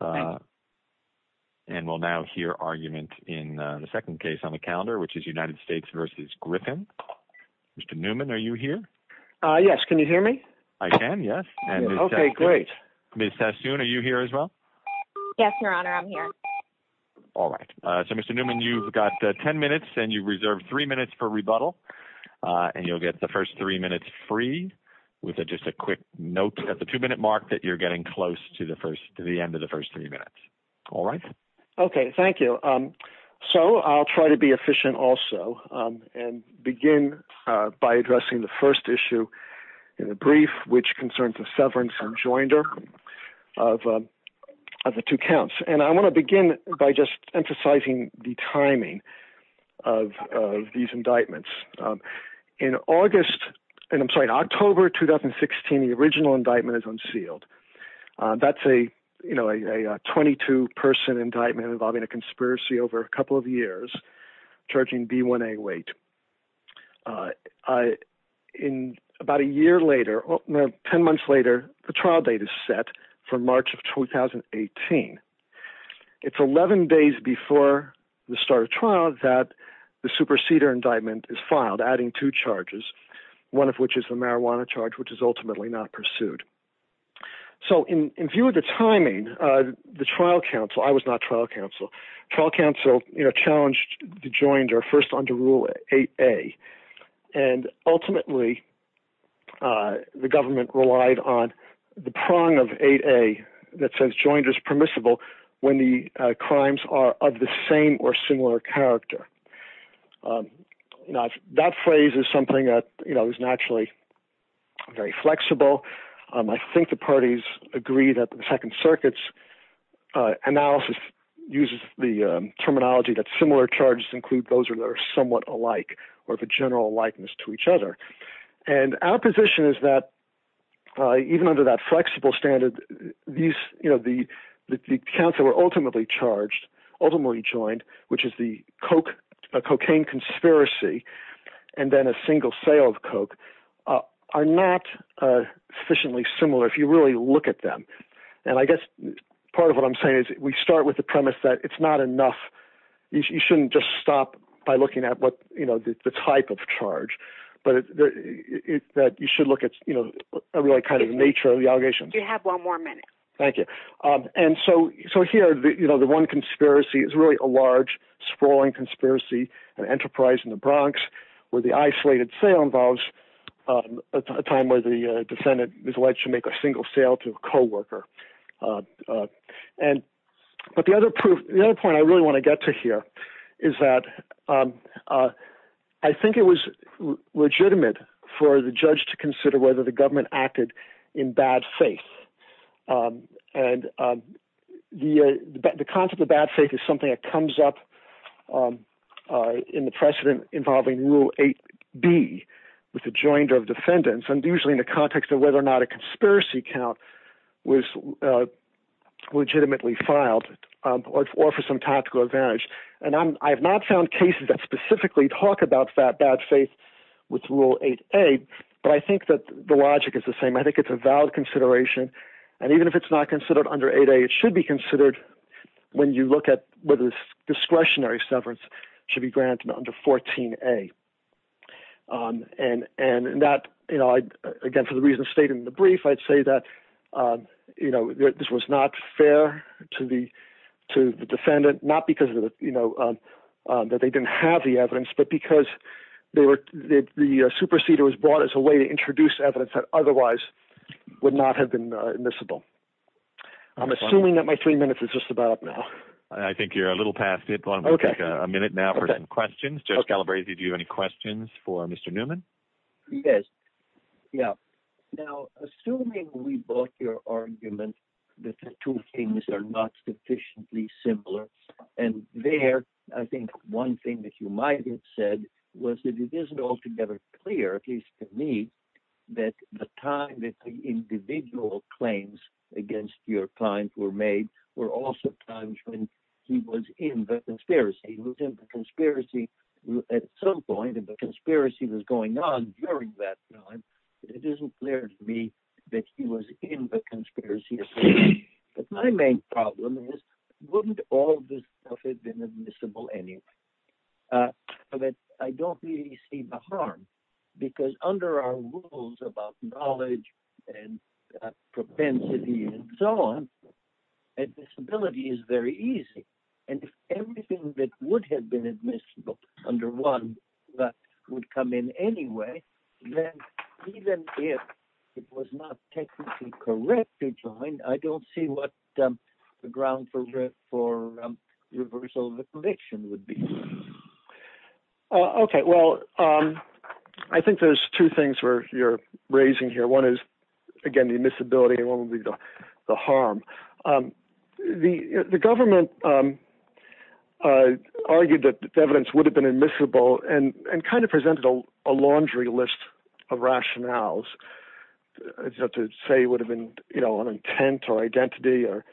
and we'll now hear argument in the second case on the calendar which is United States v. Griffin. Mr. Newman, are you here? Yes, can you hear me? I can, yes. Okay, great. Ms. Sassoon, are you here as well? Yes, Your Honor, I'm here. Alright, so Mr. Newman, you've got ten minutes and you've reserved three minutes for rebuttal and you'll get the first three minutes free with just a quick note at the two-minute mark that you're getting close to the end of the first three minutes, alright? Okay, thank you. So I'll try to be efficient also and begin by addressing the first issue in the brief which concerns the severance and joinder of the two counts and I want to begin by just emphasizing the timing of these indictments. In August, I'm sorry, in October 2016, the original 22-person indictment involving a conspiracy over a couple of years charging B1A weight. In about a year later, no, ten months later, the trial date is set for March of 2018. It's 11 days before the start of trial that the superceder indictment is filed, adding two charges, one of which is the marijuana charge which is ultimately not pursued. So in view of the timing, the trial counsel, I was not trial counsel, trial counsel, you know, challenged the joinder first under Rule 8a and ultimately the government relied on the prong of 8a that says joinder is permissible when the crimes are of the same or similar character. Now, that phrase is something that, you know, is naturally very flexible. I think the parties agree that the Second Circuit's analysis uses the terminology that similar charges include those that are somewhat alike or of a general likeness to each other and our position is that even under that flexible standard, these, you know, the counts that were ultimately charged, ultimately joined, which is the coke, a cocaine conspiracy, and then a single sale of coke, are not sufficiently similar if you really look at them. And I guess part of what I'm saying is we start with the premise that it's not enough. You shouldn't just stop by looking at what, you know, the type of charge, but it's that you should look at, you know, a really kind of nature of the allegations. You have one more minute. Thank you. And so, so here, you know, the one conspiracy is really a large, sprawling conspiracy, an enterprise in the Bronx, where the isolated sale involves a time where the defendant is alleged to make a single sale to a co-worker. And, but the other proof, the other point I really want to get to here is that I think it was legitimate for the judge to consider whether the government acted in bad faith. And the concept of bad faith is something that comes up in the precedent involving Rule 8B, with the joinder of defendants, and usually in the context of whether or not a conspiracy count was legitimately filed, or for some tactical advantage. And I'm, I have not found cases that specifically talk about that bad faith with Rule 8A, but I think that the logic is the same. I think it's a valid consideration, and even if it's not considered under 8A, it should be when you look at whether this discretionary severance should be granted under 14A. And, and, and that, you know, I, again, for the reason stated in the brief, I'd say that, you know, this was not fair to the, to the defendant, not because of, you know, that they didn't have the evidence, but because they were, the superseder was brought as a way to introduce evidence that otherwise would not have been admissible. I'm assuming that my three minutes is just about up now. I think you're a little past it. Okay. A minute now for some questions. Judge Calabresi, do you have any questions for Mr. Newman? Yes. Yeah. Now, assuming we brought your argument that the two things are not sufficiently similar, and there, I think one thing that you might have said was that it isn't altogether clear, at least to me, that the time that the individual claims against your client were made were also times when he was in the conspiracy. He was in the conspiracy at some point, and the conspiracy was going on during that time. It isn't clear to me that he was in the conspiracy. But my main problem is, wouldn't all this stuff have been admissible anyway? But I don't really see the harm, because under our rules about knowledge and propensity and so on, admissibility is very easy. And if everything that would have been admissible under one that would come in anyway, then even if it was not technically correct to join, I don't see what the ground for reversal of the conviction would be. Okay, well, I think there's two things you're raising here. One is, again, the admissibility, and one would be the harm. The government argued that the evidence would have been admissible, and kind of presented a laundry list of rationales to say it would have been, you know, an intent or identity or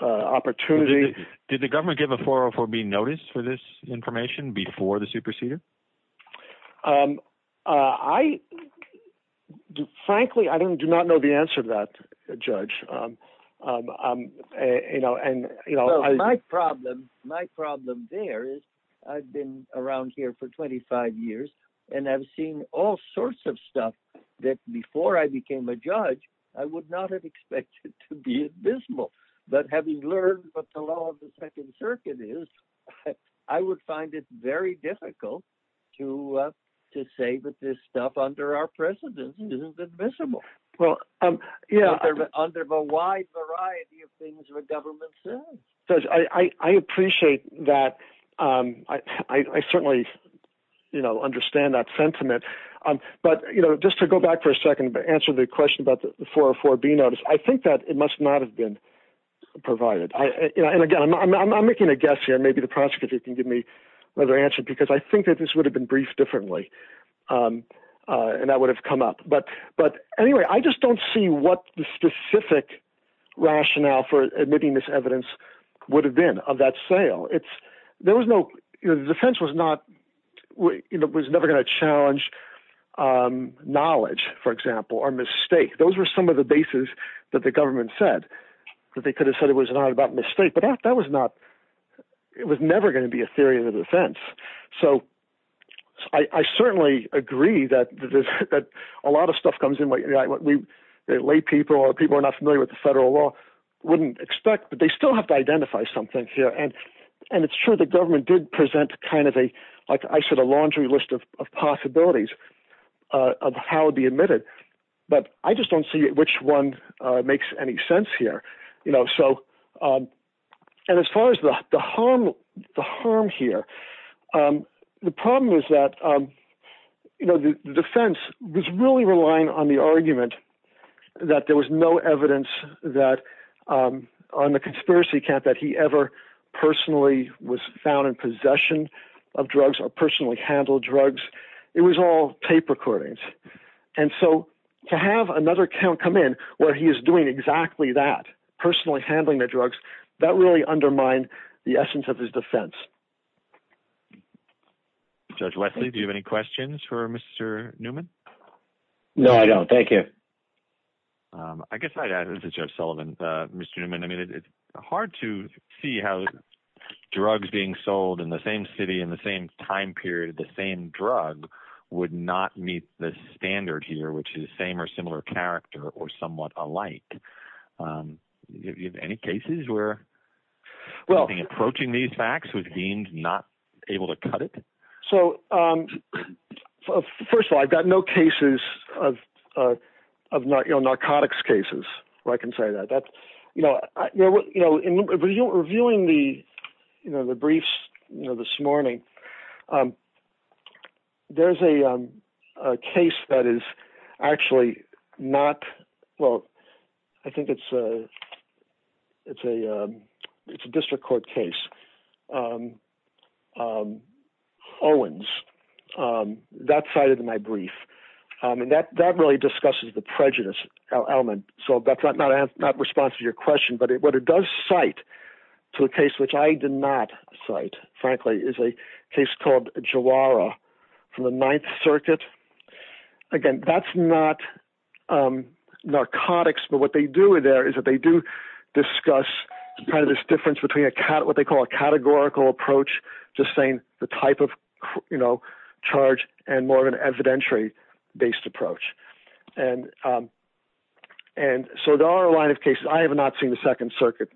opportunity. Did the government give a 404B notice for this information before the superceder? I, frankly, I do not know the answer to that, Judge. You know, and, you know, my problem, my problem there is, I've been around here for 25 years, and I've seen all sorts of stuff that before I became a judge, I would not have expected to be admissible. But having learned what the law of the Second stuff under our precedence isn't admissible. Well, yeah, under the wide variety of things the government says. Judge, I appreciate that. I certainly, you know, understand that sentiment. But, you know, just to go back for a second to answer the question about the 404B notice, I think that it must not have been provided. And, again, I'm making a guess here. Maybe the prosecutor can give me another answer, because I think that this would have been briefed differently, and that would have come up. But, anyway, I just don't see what the specific rationale for admitting this evidence would have been of that sale. It's, there was no, you know, the defense was not, you know, was never going to challenge knowledge, for example, or mistake. Those were some of the bases that the government said that they could have said it was not about mistake. But that was not, it was never going to be a theory of the defense. So, I certainly agree that a lot of stuff comes in late. Late people or people are not familiar with the federal law wouldn't expect, but they still have to identify something here. And it's true the government did present kind of a, like I said, a laundry list of possibilities of how it would be admitted. But I just don't see which one makes any sense here. You know, so, and as far as the harm, the harm here, the problem is that, you know, the defense was really relying on the argument that there was no evidence that, on the conspiracy camp, that he ever personally was found in possession of drugs or personally handled drugs. It was all tape recordings. And so, to have another count come in where he is doing exactly that, personally handling the drugs, that really undermined the essence of his defense. Judge Leslie, do you have any questions for Mr. Newman? No, I don't. Thank you. I guess I'd add, this is Jeff Sullivan. Mr. Newman, I mean, it's hard to see how drugs being the same drug would not meet the standard here, which is same or similar character or somewhat alike. Any cases where approaching these facts with being not able to cut it? So, first of all, I've got no cases of narcotics cases, where I can say that. You know, when you were viewing the, you know, the briefs, you know, this morning, there's a case that is actually not, well, I think it's a, it's a, it's a district court case. Owens, that cited in my brief. And that, that really discusses the prejudice element. So, that's not response to your question, but it, what it does cite to a case, which I did not cite, frankly, is a case called Jawara from the Ninth Circuit. Again, that's not narcotics, but what they do there is that they do discuss kind of this difference between a cat, what they call a categorical approach, just saying the type of, you know, charge and more of an evidentiary based approach. And, and so there are a line of cases, I have not seen the Second Circuit,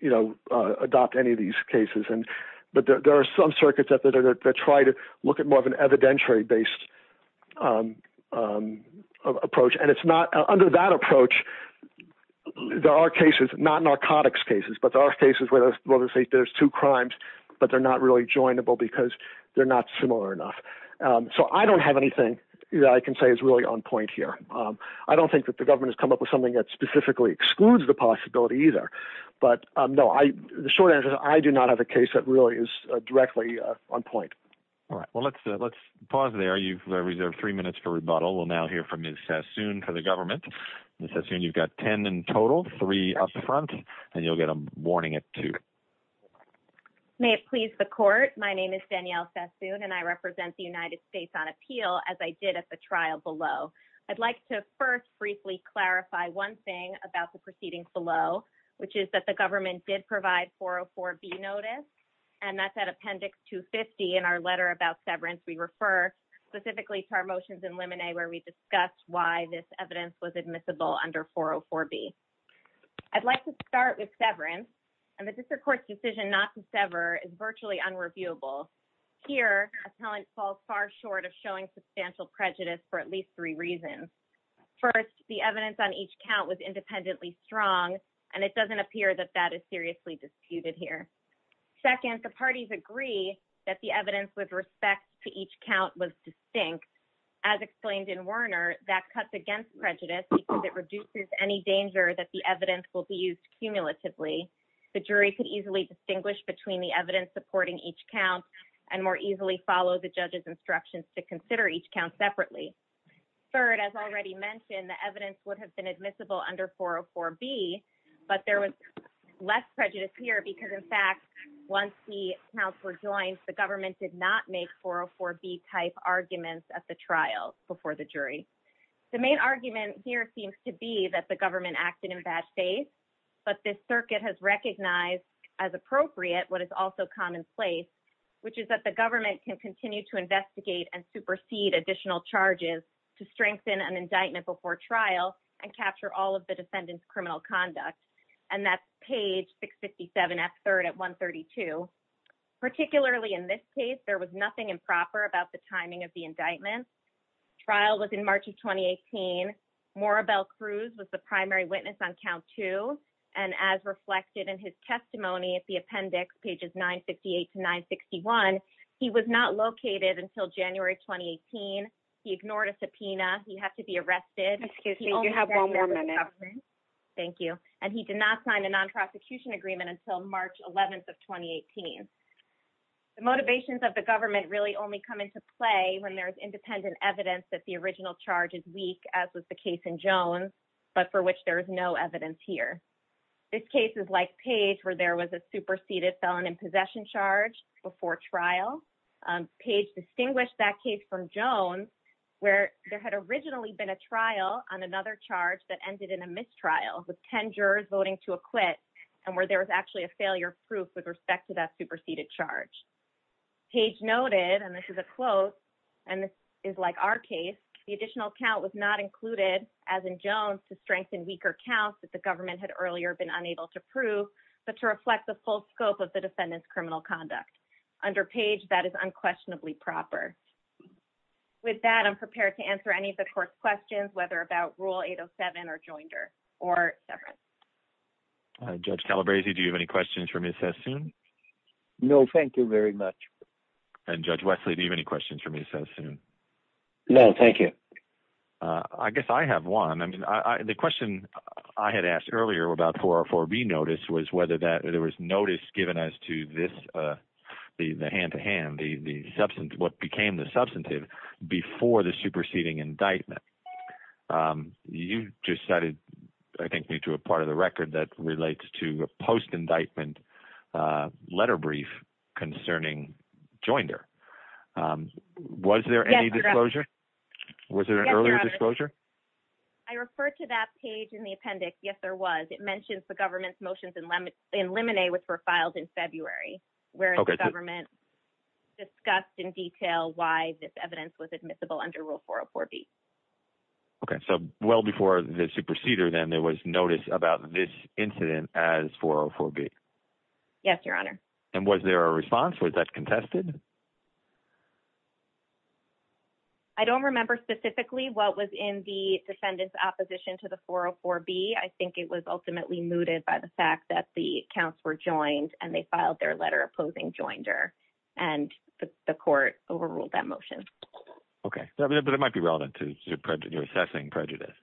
you know, adopt any of these cases. And, but there are some circuits that try to look at more of an evidentiary based approach. And it's not, under that approach, there are cases, not narcotics cases, but there are cases where there's two crimes, but they're not really joinable because they're not similar enough. So, I don't have anything that I can say is really on point here. I don't think that the government has come up with something that specifically excludes the possibility either. But, no, I, the short answer is I do not have a case that really is directly on point. All right. Well, let's, let's pause there. You've reserved three minutes for rebuttal. We'll now hear from Ms. Sassoon for the government. Ms. Sassoon, you've got ten in total, three up front, and you'll get a warning at two. May it please the court, my name is Danielle Sassoon, and I represent the United States on appeal, as I did at the trial below. I'd like to first briefly clarify one thing about the proceedings below, which is that the government did provide 404B notice, and that's at Appendix 250 in our letter about severance. We refer specifically to our motions in Limine where we discussed why this evidence was admissible under 404B. I'd like to start with severance, and the District Court's decision not to sever is virtually unreviewable. Here, appellant falls far short of showing substantial prejudice for at least three reasons. First, the evidence on each count was independently strong, and it doesn't appear that that is seriously disputed here. Second, the parties agree that the cuts against prejudice because it reduces any danger that the evidence will be used cumulatively. The jury could easily distinguish between the evidence supporting each count, and more easily follow the judge's instructions to consider each count separately. Third, as already mentioned, the evidence would have been admissible under 404B, but there was less prejudice here because, in fact, once the counts were joined, the government did not make 404B-type arguments at the trial before the jury. The main argument here seems to be that the government acted in bad faith, but this circuit has recognized as appropriate what is also commonplace, which is that the government can continue to investigate and supersede additional charges to strengthen an indictment before trial and capture all of the defendant's criminal conduct, and that's page 657F3 at 132. Particularly in this case, there was nothing improper about the timing of the indictment. Trial was in March of 2018. Morabel Cruz was the primary witness on count two, and as reflected in his testimony at the appendix, pages 958 to 961, he was not located until January 2018. He ignored a subpoena. He had to be arrested. Excuse me, you have one more minute. Thank you. And he did not sign a non-prosecution agreement until March 11th of 2018. The motivations of the government really only come into play when there's independent evidence that the original charge is weak, as was the case in Jones, but for which there is no evidence here. This case is like Page, where there was a superseded felon in possession charge before trial. Page distinguished that case from Jones, where there had originally been a trial on another charge that ended in a mistrial, with ten jurors voting to acquit, and where there was actually a failure proof with respect to that superseded charge. Page noted, and this is a quote, and this is like our case, the additional count was not included, as in Jones, to strengthen weaker counts that the government had earlier been unable to prove, but to reflect the full scope of the defendant's criminal conduct. Under Page, that is unquestionably proper. With that, I'm prepared to answer any of the court's questions, whether about Rule 807 or other. Judge Calabresi, do you have any questions for Ms. Sassoon? No, thank you very much. And Judge Wesley, do you have any questions for Ms. Sassoon? No, thank you. I guess I have one. I mean, the question I had asked earlier about 404B notice was whether that there was notice given as to this, the hand-to-hand, the substance, what became the substantive before the superseding indictment. You just cited, I think, me to a part of the record that relates to a post-indictment letter brief concerning Joinder. Was there any disclosure? Was there an earlier disclosure? I referred to that page in the appendix. Yes, there was. It mentions the government's motions in Limine, which were filed in February, where the government discussed in detail why this evidence was admissible under Rule 404B. Okay, so well before the superseder, then, there was notice about this incident as 404B. Yes, Your Honor. And was there a response? Was that contested? I don't remember specifically what was in the defendant's opposition to the 404B. I think it was ultimately mooted by the fact that the counts were joined and they filed their letter opposing Joinder, and the court overruled that motion. Okay, but it might be relevant to your assessing prejudice.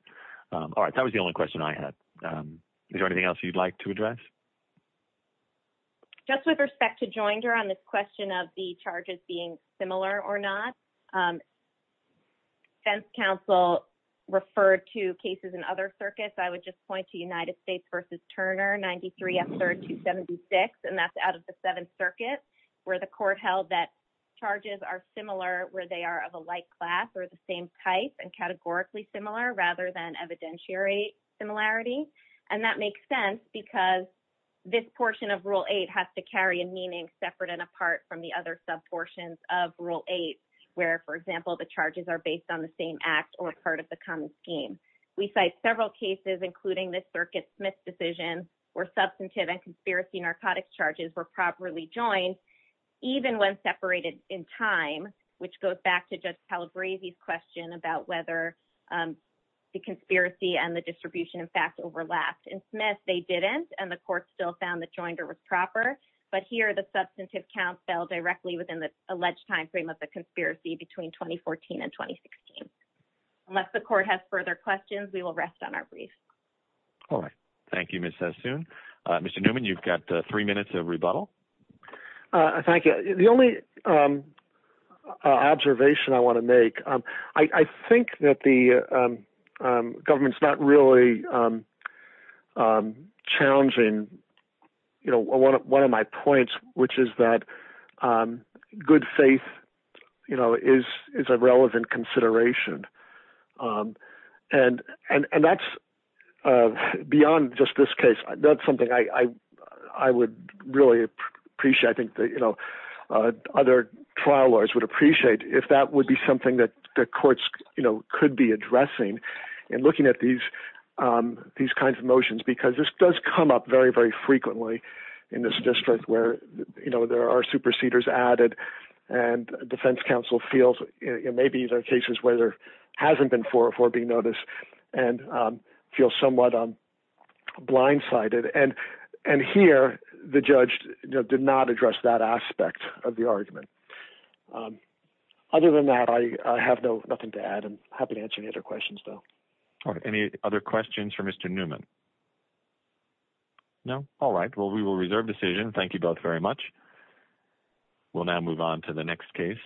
All right, that was the only question I had. Is there anything else you'd like to address? Just with respect to Joinder on this question of the charges being similar or not, defense counsel referred to cases in other circuits. I would just point to United States v. Turner, 93 F. 3rd 276, and that's out of the Seventh Circuit, where the court held that charges are similar where they are of a like class or the same type and categorically similar rather than evidentiary similarity. And that makes sense because this portion of Rule 8 has to carry a meaning separate and apart from the other sub portions of Rule 8, where, for example, the charges are based on the same act or part of the common scheme. We cite several cases, including the Circuit Smith decision, where substantive and conspiracy narcotics charges were properly joined, even when separated in time, which goes back to Judge Pellegrini's question about whether the conspiracy and the distribution, in fact, overlapped. In Smith, they didn't, and the court still found that Joinder was proper, but here the substantive count fell directly within the alleged time frame of the conspiracy between 2014 and 2016. Unless the court has further questions, we will soon. Mr. Newman, you've got three minutes of rebuttal. Thank you. The only observation I want to make, I think that the government's not really challenging, you know, one of my points, which is that good faith, you know, is a relevant consideration, and that's beyond just this case. That's something I would really appreciate. I think that, you know, other trial lawyers would appreciate if that would be something that the courts, you know, could be addressing in looking at these kinds of motions, because this does come up very, very frequently in this district, where, you know, there are superseders added and defense counsel feels, you know, maybe there are cases where there hasn't been 404 being noticed and feel somewhat blindsided, and here the judge did not address that aspect of the argument. Other than that, I have nothing to add. I'm happy to answer any other questions, though. Any other questions for Mr. Newman? No? All right. Well, we will reserve decision. Thank you both very much. We'll now move on to the next case.